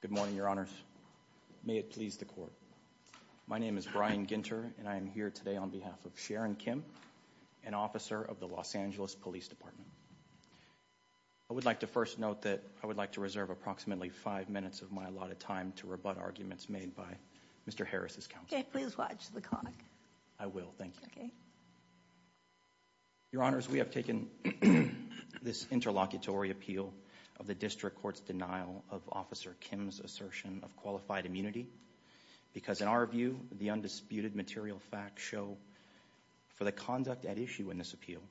Good morning, your honors. May it please the court. My name is Brian Ginter, and I am here today on behalf of Sharon Kim, an officer of the Los Angeles Police Department. I would like to first note that I would like to reserve approximately five minutes of my allotted time to rebut arguments made by Mr. Harris's counsel. Okay, please watch the clock. I will, thank you. Your honors, we have taken this interlocutory appeal of the district court's denial of Officer Kim's assertion of qualified immunity, because in our view, the undisputed material facts show for the conduct at issue in this appeal,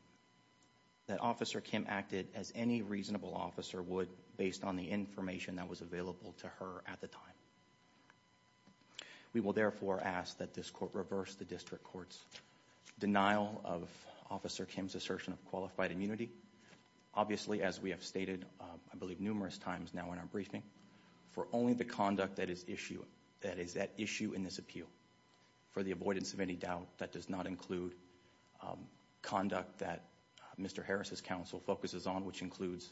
that Officer Kim acted as any reasonable officer would based on the information that was available to her at the time. We will therefore ask that this court reverse the district court's denial of Officer Kim's assertion of qualified immunity. Obviously, as we have stated, I believe numerous times now in our briefing, for only the conduct that is issue, that is at issue in this appeal, for the avoidance of any doubt, that does not include conduct that Mr. Harris's counsel focuses on, which includes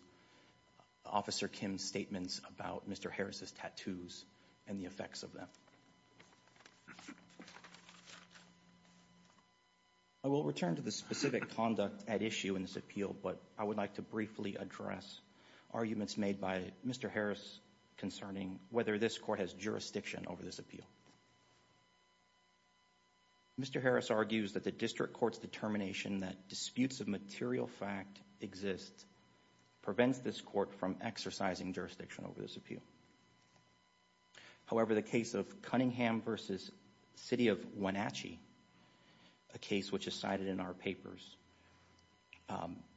Officer Kim's statements about Mr. Harris's tattoos and the effects of them. I will return to the specific conduct at issue in this appeal, but I would like to briefly address arguments made by Mr. Harris concerning whether this court has jurisdiction over this appeal. Mr. Harris argues that the district court's determination that disputes of material fact exist prevents this court from exercising jurisdiction over this appeal. However, the case of Cunningham v. City of Wenatchee, a case which is cited in our papers,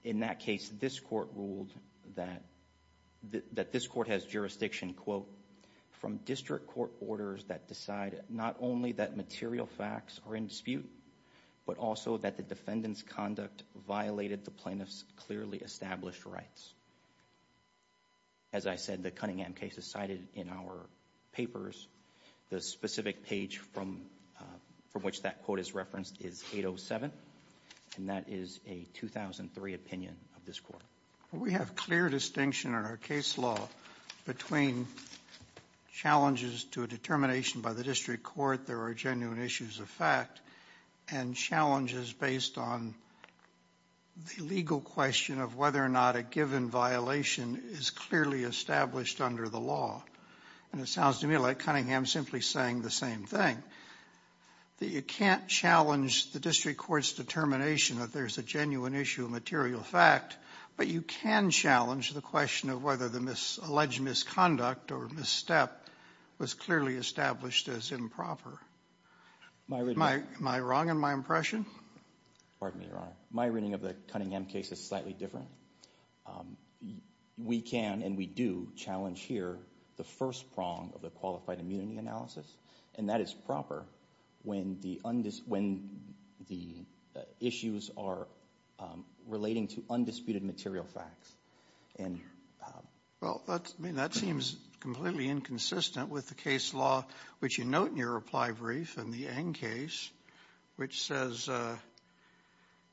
in that case this court ruled that this court has jurisdiction, quote, from district court orders that decide not only that material facts are in dispute, but also that the defendant's conduct violated the plaintiff's clearly established rights. As I said, the Cunningham case is cited in our papers. The specific page from which that quote is referenced is 807, and that is a 2003 opinion of this court. We have clear distinction in our case law between challenges to a determination by the district court there are genuine issues of material fact, and challenges based on the legal question of whether or not a given violation is clearly established under the law. And it sounds to me like Cunningham is simply saying the same thing, that you can't challenge the district court's determination that there's a genuine issue of material fact, but you can challenge the question of whether the alleged misconduct or misstep was clearly established as improper. Am I wrong in my impression? Pardon me, Your Honor. My reading of the Cunningham case is slightly different. We can and we do challenge here the first prong of the qualified immunity analysis, and that is proper when the issues are relating to undisputed material facts. Well, that seems completely inconsistent with the case law, which you note in your reply brief in the N case, which says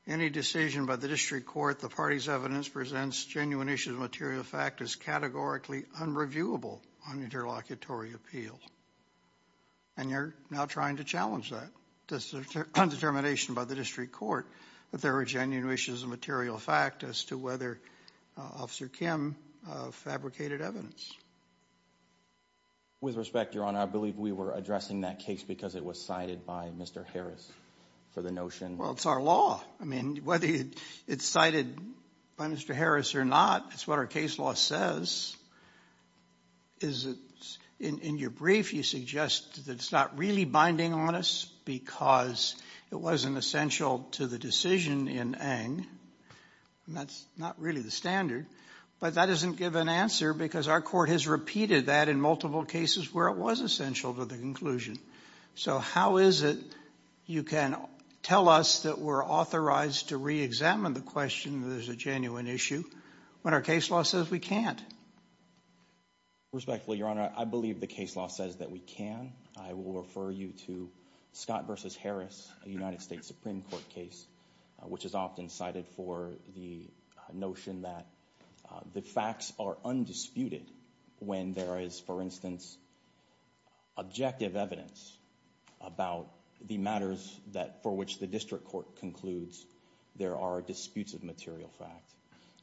any decision by the district court the party's evidence presents genuine issues of material fact is categorically unreviewable on interlocutory appeal. And you're now trying to challenge that. Does the determination by the district court that there are genuine issues of material fact as to whether Officer Kim fabricated evidence? With respect, Your Honor, I believe we were addressing that case because it was cited by Mr. Harris for the notion. Well, it's our law. I mean, whether it's cited by Mr. Harris or not, it's what our case law says. In your brief, you suggest that it's not really binding on us because it wasn't essential to the decision in Ng, and that's not really the standard. But that doesn't give an answer because our court has repeated that in multiple cases where it was essential to the conclusion. So how is it you can tell us that we're authorized to reexamine the question that there's a genuine issue when our case law says we can't? Respectfully, Your Honor, I believe the case law says that we can. I will refer you to Scott versus Harris, a United States Supreme Court case, which is often cited for the notion that the facts are undisputed when there is, for instance, objective evidence about the matters that for which the district court concludes there are disputes of material fact.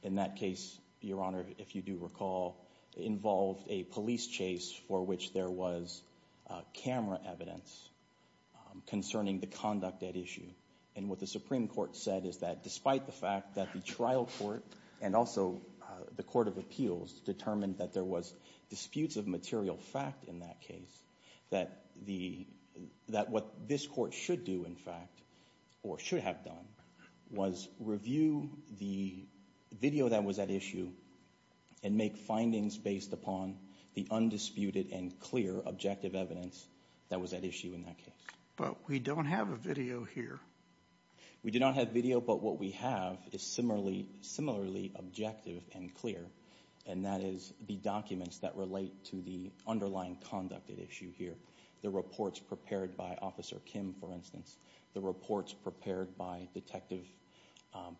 In that case, Your Honor, if you do recall, involved a police chase for which there was camera evidence concerning the conduct at issue. And what the Supreme Court said is that despite the fact that the trial court and also the court of appeals determined that there was disputes of material fact in that case, that what this court should do, in fact, or should have done, was review the video that was at issue and make findings based upon the undisputed and clear objective evidence that was at issue in that case. But we don't have a video here. We do not have video, but what we have is similarly objective and clear. And that is the documents that relate to the underlying conduct at issue here. The reports prepared by Officer Kim, for instance. The reports prepared by Detective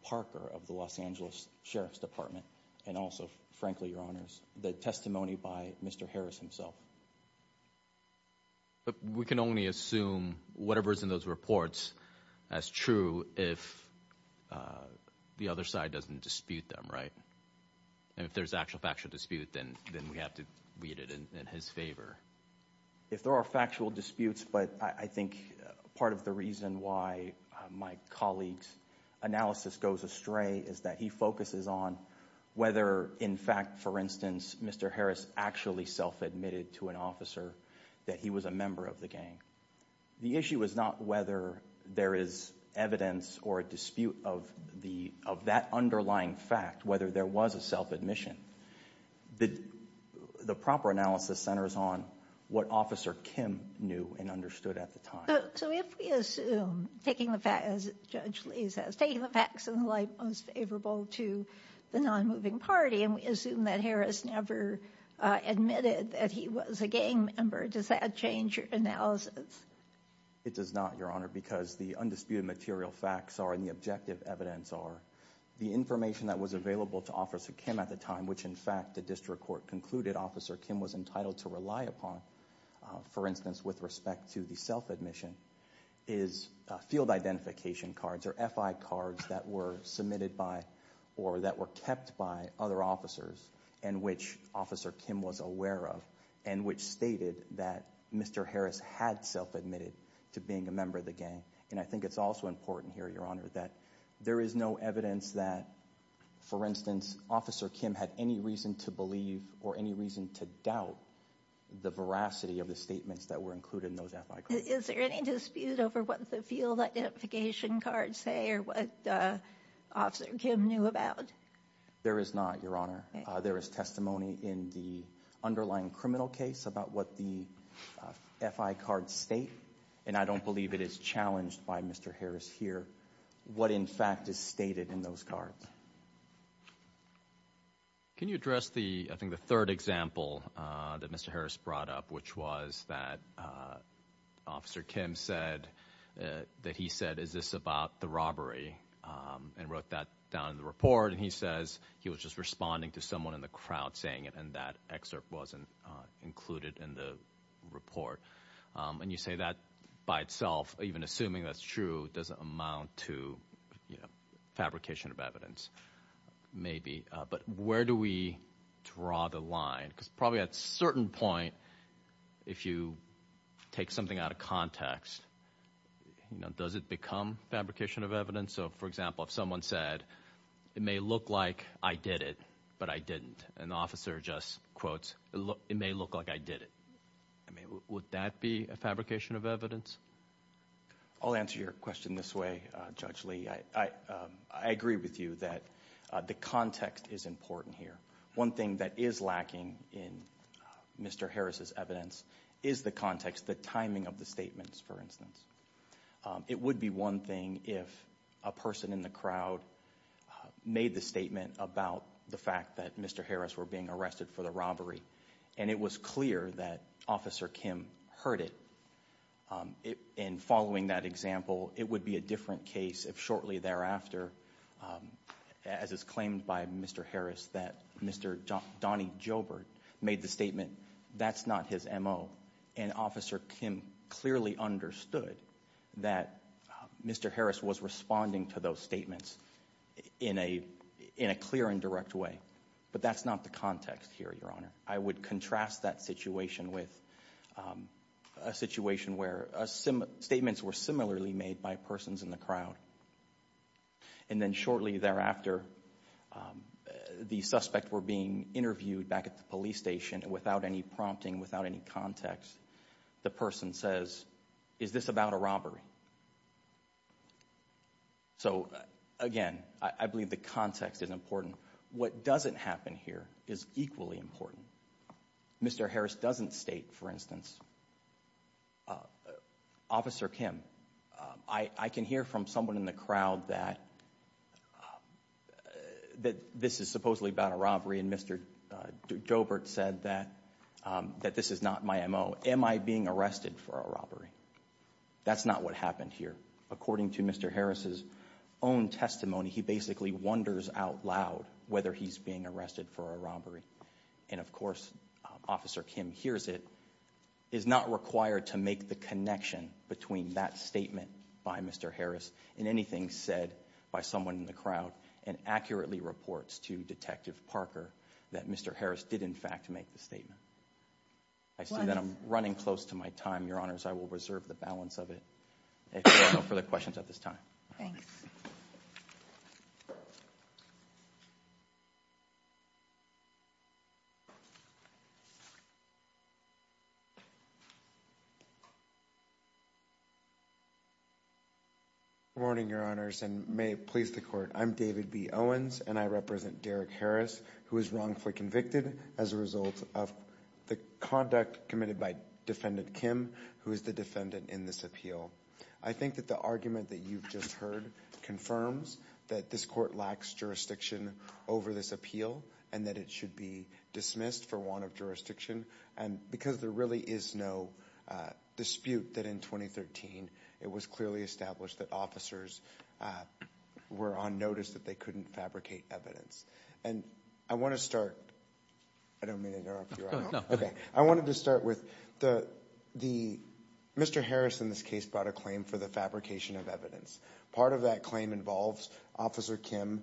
Parker of the Los Angeles Sheriff's Department. And also, frankly, Your Honors, the testimony by Mr. Harris himself. But we can only assume whatever is in those reports as true if the other side doesn't dispute them, right? And if there's actual factual dispute, then we have to read it in his favor. If there are factual disputes, but I think part of the reason why my colleague's analysis goes astray is that he focuses on whether, in fact, for instance, Mr. Harris actually self-admitted to an officer that he was a member of the gang. The issue is not whether there is evidence or a dispute of that underlying fact, whether there was a self-admission. The proper analysis centers on what Officer Kim knew and understood at the time. So if we assume, taking the facts, as Judge Lee says, taking the facts in the light most favorable to the non-moving party, and we assume that Harris never admitted that he was a gang member, does that change your analysis? It does not, Your Honor, because the undisputed material facts are, and the objective evidence are, the information that was available to Officer Kim at the time, which in fact, the district court concluded Officer Kim was entitled to rely upon, for instance, with respect to the self-admission, is field identification cards or FI cards that were submitted by or that were kept by other officers, and which Officer Kim was aware of, and which stated that Mr. Harris had self-admitted to being a member of the gang. And I think it's also important here, Your Honor, that there is no evidence that, for any reason to believe or any reason to doubt the veracity of the statements that were included in those FI cards. Is there any dispute over what the field identification cards say or what Officer Kim knew about? There is not, Your Honor. There is testimony in the underlying criminal case about what the FI card state, and I don't believe it is challenged by Mr. Harris here, what in fact is stated in those cards. Can you address the, I think the third example that Mr. Harris brought up, which was that Officer Kim said, that he said, is this about the robbery, and wrote that down in the report. And he says he was just responding to someone in the crowd saying it, and that excerpt wasn't included in the report. And you say that by itself, even assuming that's true, doesn't amount to fabrication of evidence, maybe. But where do we draw the line? because probably at a certain point, if you take something out of context, does it become fabrication of evidence? So for example, if someone said, it may look like I did it, but I didn't. An officer just quotes, it may look like I did it. I mean, would that be a fabrication of evidence? I'll answer your question this way, Judge Lee. I agree with you that the context is important here. One thing that is lacking in Mr. Harris' evidence is the context, the timing of the statements, for instance. It would be one thing if a person in the crowd made the statement about the fact that Mr. Harris were being arrested for the robbery. And it was clear that Officer Kim heard it, and following that example, it would be a different case if shortly thereafter, as is claimed by Mr. Harris, that Mr. Donnie Jobert made the statement, that's not his MO. And Officer Kim clearly understood that Mr. Harris was responding to those statements in a clear and direct way. But that's not the context here, Your Honor. I would contrast that situation with a situation where statements were similarly made by persons in the crowd. And then shortly thereafter, the suspect were being interviewed back at the police station without any prompting, without any context. The person says, is this about a robbery? So again, I believe the context is important. What doesn't happen here is equally important. Mr. Harris doesn't state, for instance, Officer Kim. I can hear from someone in the crowd that this is supposedly about a robbery, and Mr. Jobert said that this is not my MO. Am I being arrested for a robbery? That's not what happened here. According to Mr. Harris's own testimony, he basically wonders out loud whether he's being arrested for a robbery. And of course, Officer Kim hears it, is not required to make the connection between that statement by Mr. Harris and anything said by someone in the crowd, and accurately reports to Detective Parker that Mr. Harris did, in fact, make the statement. I see that I'm running close to my time, Your Honors. I will reserve the balance of it, if there are no further questions at this time. Thanks. Good morning, Your Honors, and may it please the Court. I'm David B. Owens, and I represent Derek Harris, who was wrongfully convicted as a result of the conduct committed by Defendant Kim, who is the defendant in this appeal. I think that the argument that you've just heard confirms that this court lacks jurisdiction over this appeal, and that it should be dismissed for want of jurisdiction. And because there really is no dispute that in 2013, it was clearly established that officers were on notice that they couldn't fabricate evidence. And I want to start, I don't mean to interrupt you, Your Honor. No. Okay. I wanted to start with the, Mr. Harris, in this case, brought a claim for the fabrication of evidence. Part of that claim involves Officer Kim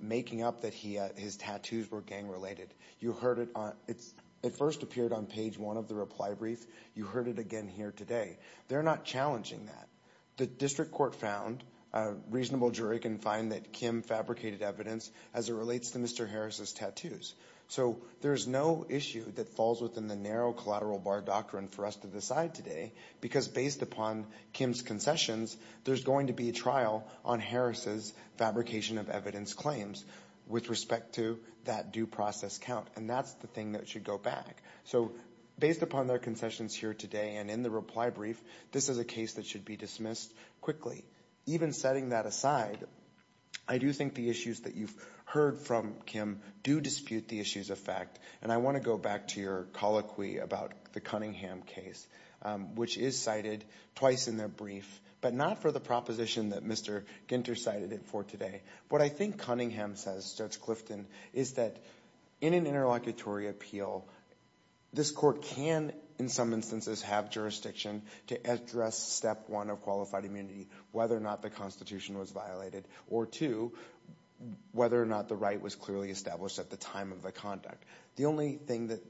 making up that his tattoos were gang-related. You heard it on, it first appeared on page one of the reply brief. You heard it again here today. They're not challenging that. The District Court found, a reasonable jury can find that Kim fabricated evidence as it relates to Mr. Harris's tattoos. So there's no issue that falls within the narrow collateral bar doctrine for us to decide today because based upon Kim's concessions, there's going to be a trial on Harris's fabrication of evidence claims with respect to that due process count. And that's the thing that should go back. So based upon their concessions here today and in the reply brief, this is a case that should be dismissed quickly. Even setting that aside, I do think the issues that you've heard from Kim do dispute the issues of fact. And I want to go back to your colloquy about the Cunningham case, which is cited twice in their brief, but not for the proposition that Mr. Ginter cited it for today. What I think Cunningham says, Judge Clifton, is that in an interlocutory appeal, this court can, in some instances, have jurisdiction to address step one of qualified immunity, whether or not the Constitution was violated, or two, whether or not the right was clearly established at the time of the conduct. The only thing that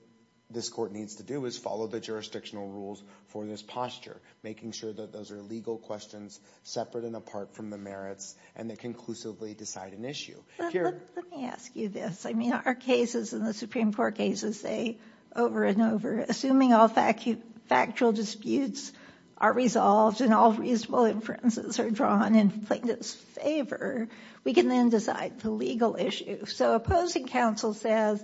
this court needs to do is follow the jurisdictional rules for this posture, making sure that those are legal questions separate and apart from the merits, and they conclusively decide an issue. Here. Let me ask you this. I mean, our cases in the Supreme Court cases, they over and over, assuming all factual disputes are resolved and all reasonable inferences are drawn in plaintiff's favor, we can then decide the legal issue. So opposing counsel says,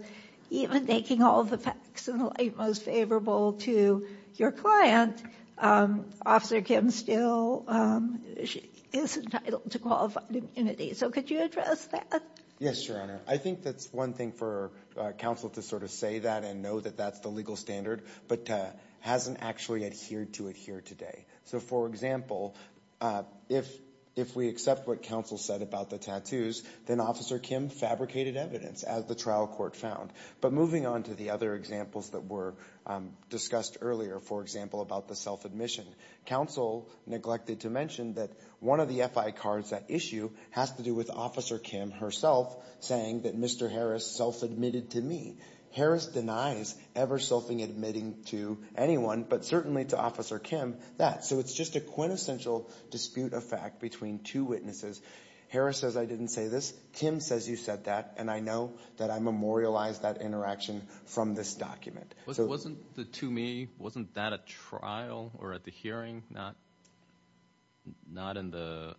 even making all the facts in the light most favorable to your client, Officer Kim still is entitled to qualified immunity. So could you address that? Yes, Your Honor. I think that's one thing for counsel to sort of say that and know that that's the legal standard, but hasn't actually adhered to it here today. So for example, if we accept what counsel said about the tattoos, then Officer Kim fabricated evidence, as the trial court found. But moving on to the other examples that were discussed earlier, for example, about the self-admission. Counsel neglected to mention that one of the F.I. cards at issue has to do with Officer Kim herself saying that Mr. Harris self-admitted to me. Harris denies ever self-admitting to anyone, but certainly to Officer Kim, that. So it's just a quintessential dispute of fact between two witnesses. Harris says, I didn't say this. Kim says, you said that. And I know that I memorialized that interaction from this document. Wasn't the to me, wasn't that a trial or at the hearing, not in the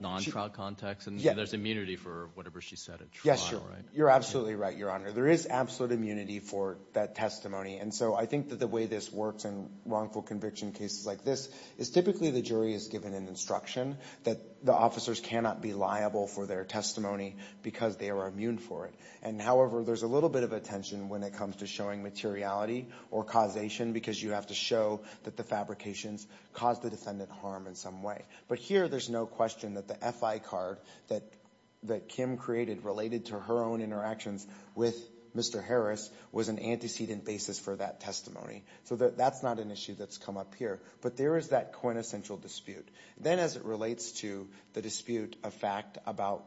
non-trial context? And there's immunity for whatever she said at trial, right? Yes, you're absolutely right, Your Honor. There is absolute immunity for that testimony. And so I think that the way this works in wrongful conviction cases like this, is typically the jury is given an instruction that the officers cannot be liable for their testimony because they are immune for it. And however, there's a little bit of attention when it comes to showing materiality or causation because you have to show that the fabrications caused the defendant harm in some way. But here, there's no question that the FI card that Kim created related to her own interactions with Mr. Harris was an antecedent basis for that testimony. So that's not an issue that's come up here. But there is that quintessential dispute. Then as it relates to the dispute of fact about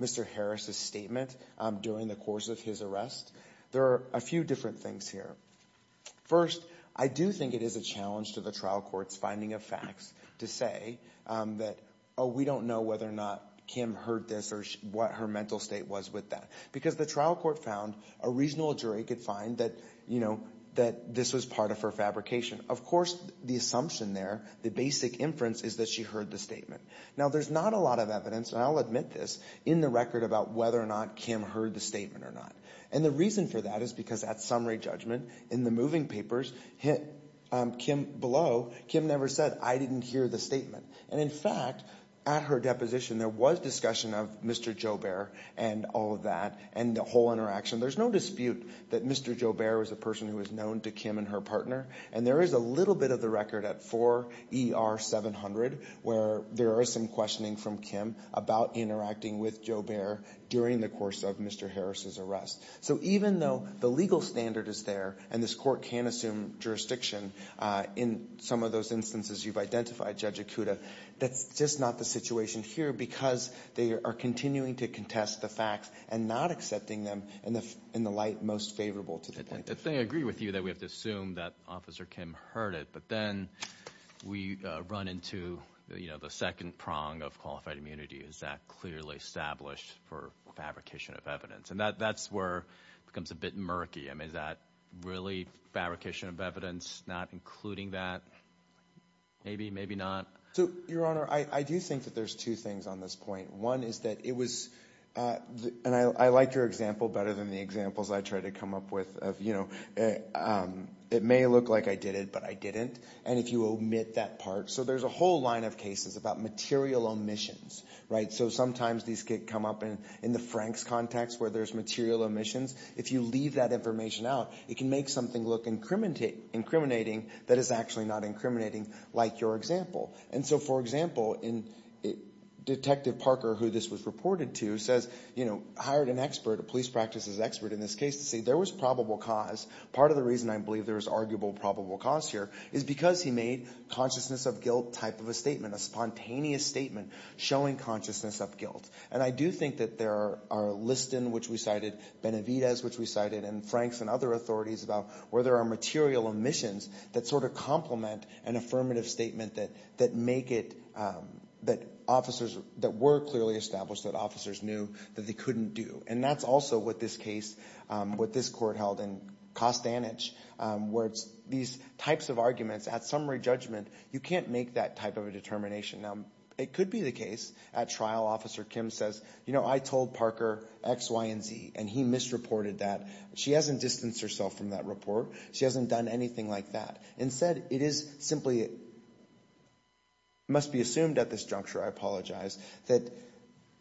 Mr. Harris's statement during the course of his arrest, there are a few different things here. First, I do think it is a challenge to the trial court's finding of facts to say that, oh, we don't know whether or not Kim heard this or what her mental state was with that. Because the trial court found a reasonable jury could find that, you know, that this was part of her fabrication. Of course, the assumption there, the basic inference is that she heard the statement. Now, there's not a lot of evidence, and I'll admit this, in the record about whether or not Kim heard the statement or not. And the reason for that is because at summary judgment, in the moving papers, Kim below, Kim never said, I didn't hear the statement. And in fact, at her deposition, there was discussion of Mr. Joubert and all of that and the whole interaction. There's no dispute that Mr. Joubert was a person who was known to Kim and her partner. And there is a little bit of the record at 4 ER 700 where there is some questioning from Kim about interacting with Joubert during the course of Mr. Harris's arrest. So even though the legal standard is there and this court can assume jurisdiction in some of those instances you've identified, Judge Ikuda, that's just not the situation here because they are continuing to contest the facts and not accepting them in the light most favorable to the plaintiff. If they agree with you that we have to assume that Officer Kim heard it, but then we run into, you know, the second prong of qualified immunity. Is that clearly established for fabrication of evidence? And that's where it becomes a bit murky. I mean, is that really fabrication of evidence not including that? Maybe, maybe not. So, Your Honor, I do think that there's two things on this point. One is that it was, and I like your example better than the examples I try to come up with of, you know, it may look like I did it, but I didn't. And if you omit that part, so there's a whole line of cases about material omissions, right? So sometimes these could come up in the Frank's context where there's material omissions. If you leave that information out, it can make something look incriminating that is actually not incriminating like your example. And so, for example, Detective Parker, who this was reported to, says, you know, hired an expert, a police practices expert in this case to say there was probable cause. Part of the reason I believe there was arguable probable cause here is because he made consciousness of guilt type of a statement, a spontaneous statement showing consciousness of guilt. And I do think that there are Liston, which we cited, Benavidez, which we cited, and Franks and other authorities about where there are material omissions that sort of complement an affirmative statement that make it, that officers, that were clearly established that officers knew that they couldn't do. And that's also what this case, what this court held in Costanich, where it's these types of arguments at summary judgment, you can't make that type of a determination. Now, it could be the case at trial, Officer Kim says, you know, I told Parker X, Y, and Z, and he misreported that. She hasn't distanced herself from that report. She hasn't done anything like that. Instead, it is simply, it must be assumed at this juncture, I apologize, that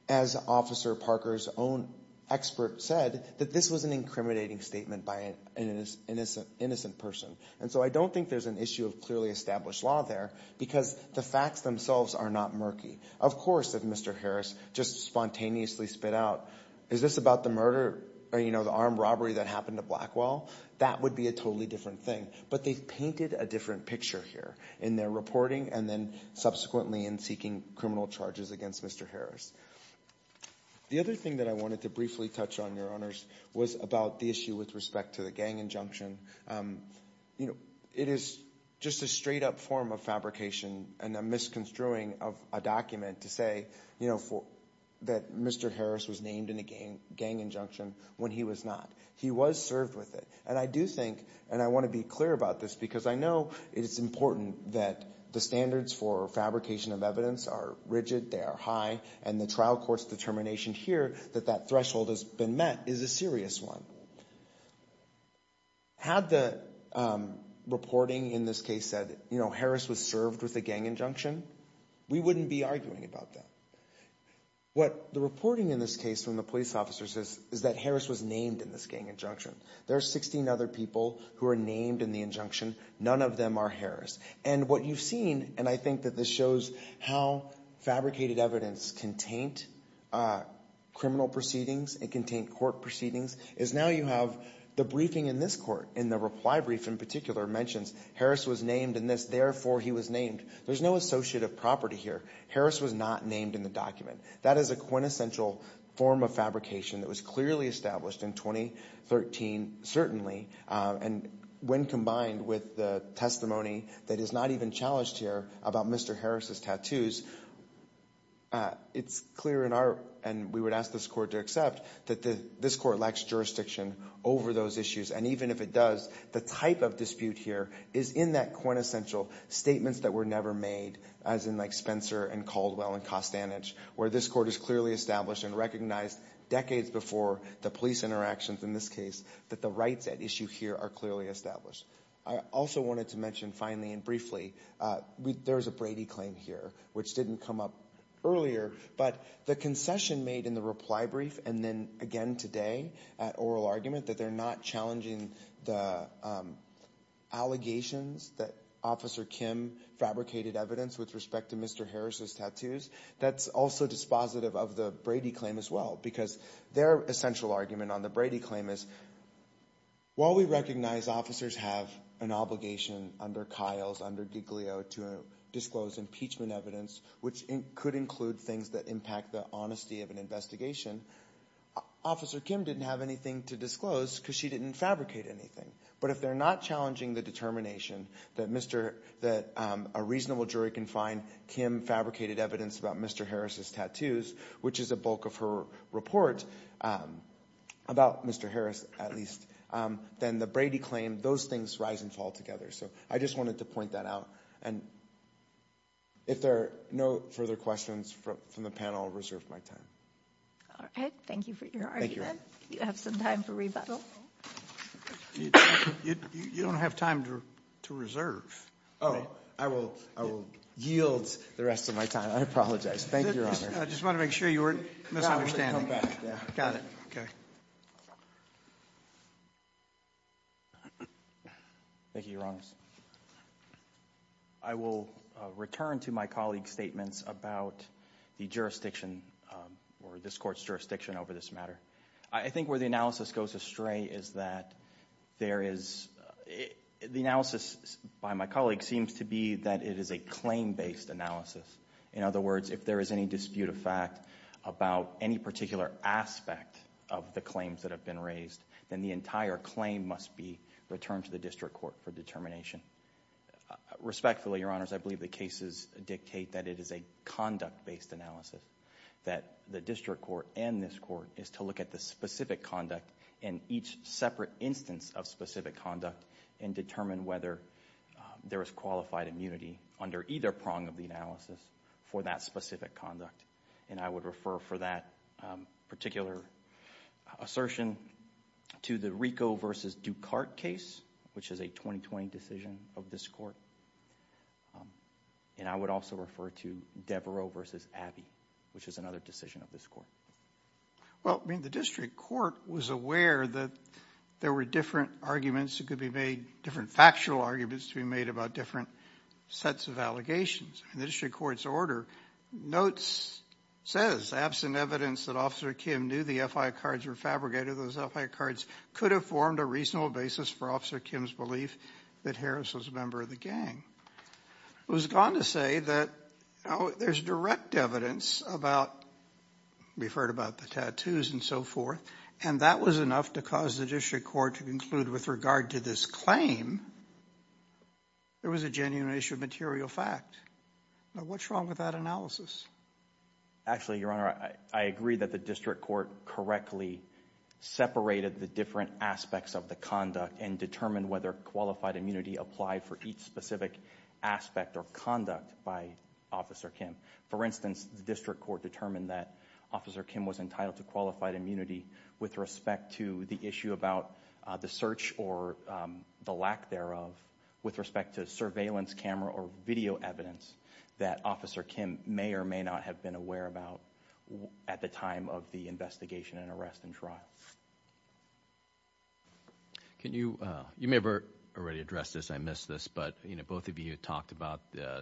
as Officer Parker's own expert said, that this was an incriminating statement by an innocent person, and so I don't think there's an issue of clearly established law there because the facts themselves are not murky. Of course, if Mr. Harris just spontaneously spit out, is this about the murder or, you know, the armed robbery that happened to Blackwell, that would be a totally different thing. But they've painted a different picture here in their reporting and then subsequently in seeking criminal charges against Mr. Harris. The other thing that I wanted to briefly touch on, Your Honors, was about the issue with respect to the gang injunction. You know, it is just a straight-up form of fabrication and a misconstruing of a document to say, you know, that Mr. Harris was named in a gang injunction when he was not. He was served with it, and I do think, and I want to be clear about this because I know it is important that the standards for fabrication of evidence are rigid, they are high, and the trial court's determination here that that threshold has been met is a serious one. Had the reporting in this case said, you know, Harris was served with a gang injunction, we wouldn't be arguing about that. What the reporting in this case from the police officer says is that Harris was named in this gang injunction. There are 16 other people who are named in the injunction. None of them are Harris. And what you've seen, and I think that this shows how fabricated evidence can taint criminal proceedings and can taint court proceedings, is now you have the briefing in this court, in the reply brief in particular, mentions Harris was named in this, therefore he was named. There's no associative property here. Harris was not named in the document. That is a quintessential form of fabrication that was clearly established in 2013, certainly, and when combined with the testimony that is not even challenged here about Mr. Harris' tattoos, it's clear in our, and we would ask this court to accept, that this court lacks jurisdiction over those issues. And even if it does, the type of dispute here is in that quintessential statements that were never made, as in like Spencer and Caldwell and Costanich, where this court is clearly established and recognized decades before the police interactions in this case, that the rights at issue here are clearly established. I also wanted to mention finally and briefly, there's a Brady claim here, which didn't come up earlier, but the concession made in the reply brief and then again today at oral argument, that they're not challenging the allegations that Officer Kim fabricated evidence with respect to Mr. Harris' tattoos, that's also dispositive of the Brady claim as well, because their essential argument on the Brady claim is, while we recognize officers have an obligation under Kyle's, under Giglio, to disclose impeachment evidence, which could include things that impact the honesty of an investigation, Officer Kim didn't have anything to disclose because she didn't fabricate anything. But if they're not challenging the determination that a reasonable jury can find Kim fabricated evidence about Mr. Harris' tattoos, which is a bulk of her report about Mr. Harris at least, then the Brady claim, those things rise and fall together. So I just wanted to point that out. And if there are no further questions from the panel, I'll reserve my time. All right. Thank you for your argument. You have some time for rebuttal. You don't have time to reserve. Oh, I will yield the rest of my time. I apologize. Thank you, Your Honor. I just wanted to make sure you weren't misunderstanding. Got it. Okay. Thank you, Your Honors. I will return to my colleague's statements about the jurisdiction, or this Court's jurisdiction over this matter. I think where the analysis goes astray is that there is, the analysis by my colleague seems to be that it is a claim-based analysis. In other words, if there is any dispute of fact about any particular aspect of the claims that have been raised, then the entire claim must be returned to the District Court for determination. Respectfully, Your Honors, I believe the cases dictate that it is a conduct-based analysis. That the District Court and this Court is to look at the specific conduct in each separate instance of specific conduct and determine whether there is qualified immunity under either prong of the analysis for that specific conduct. I would refer for that particular assertion to the Rico versus Ducart case, which is a 2020 decision of this Court. And I would also refer to Devereaux versus Abbey, which is another decision of this Court. Well, I mean, the District Court was aware that there were different arguments that could be made, different factual arguments to be made about different sets of allegations. In the District Court's order, notes says, absent evidence that Officer Kim knew the FI cards were fabricated, those FI cards could have formed a reasonable basis for Officer Kim's belief that Harris was a member of the gang. It was gone to say that there's direct evidence about, we've heard about the tattoos and so forth, and that was enough to cause the District Court to conclude with regard to this claim, there was a genuine issue of material fact. Now, what's wrong with that analysis? Actually, Your Honor, I agree that the District Court correctly separated the different aspects of the conduct and determined whether qualified immunity applied for each specific aspect of conduct by Officer Kim. For instance, the District Court determined that Officer Kim was entitled to qualified immunity with respect to the issue about the search or the lack thereof, with respect to surveillance camera or video evidence that Officer Kim may or may not have been aware about at the time of the investigation and arrest and trial. Can you, you may have already addressed this, I missed this, but both of you talked about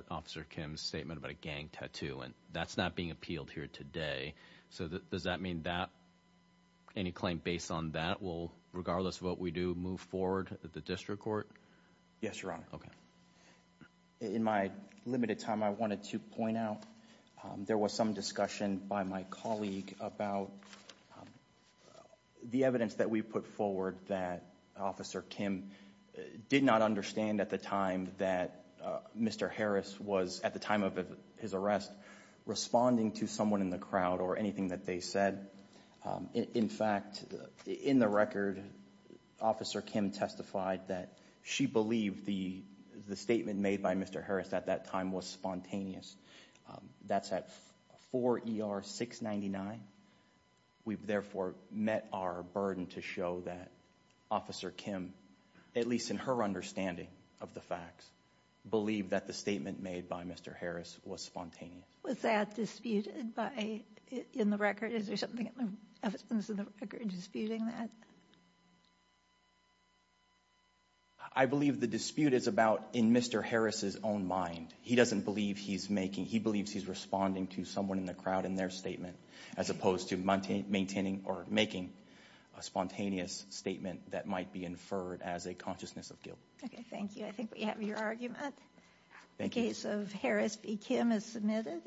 Officer Kim's statement about a gang tattoo and that's not being appealed here today. So does that mean that any claim based on that will, regardless of what we do, move forward at the District Court? Yes, Your Honor. Okay. In my limited time, I wanted to point out there was some discussion by my colleague about the evidence that we put forward that Officer Kim did not understand at the time that Mr. Harris was, at the time of his arrest, responding to someone in the crowd or anything that they said. In fact, in the record, Officer Kim testified that she believed the statement made by Mr. Harris at that time was spontaneous. That's at 4 ER 699. We've therefore met our burden to show that Officer Kim, at least in her understanding of the facts, believed that the statement made by Mr. Harris was spontaneous. Was that disputed by, in the record? Is there something in the record disputing that? I believe the dispute is about in Mr. Harris's own mind. He doesn't believe he's making, he believes he's responding to someone in the crowd in their statement as opposed to maintaining or making a spontaneous statement that might be inferred as a consciousness of guilt. Okay, thank you. I think we have your argument. The case of Harris v. Kim is submitted.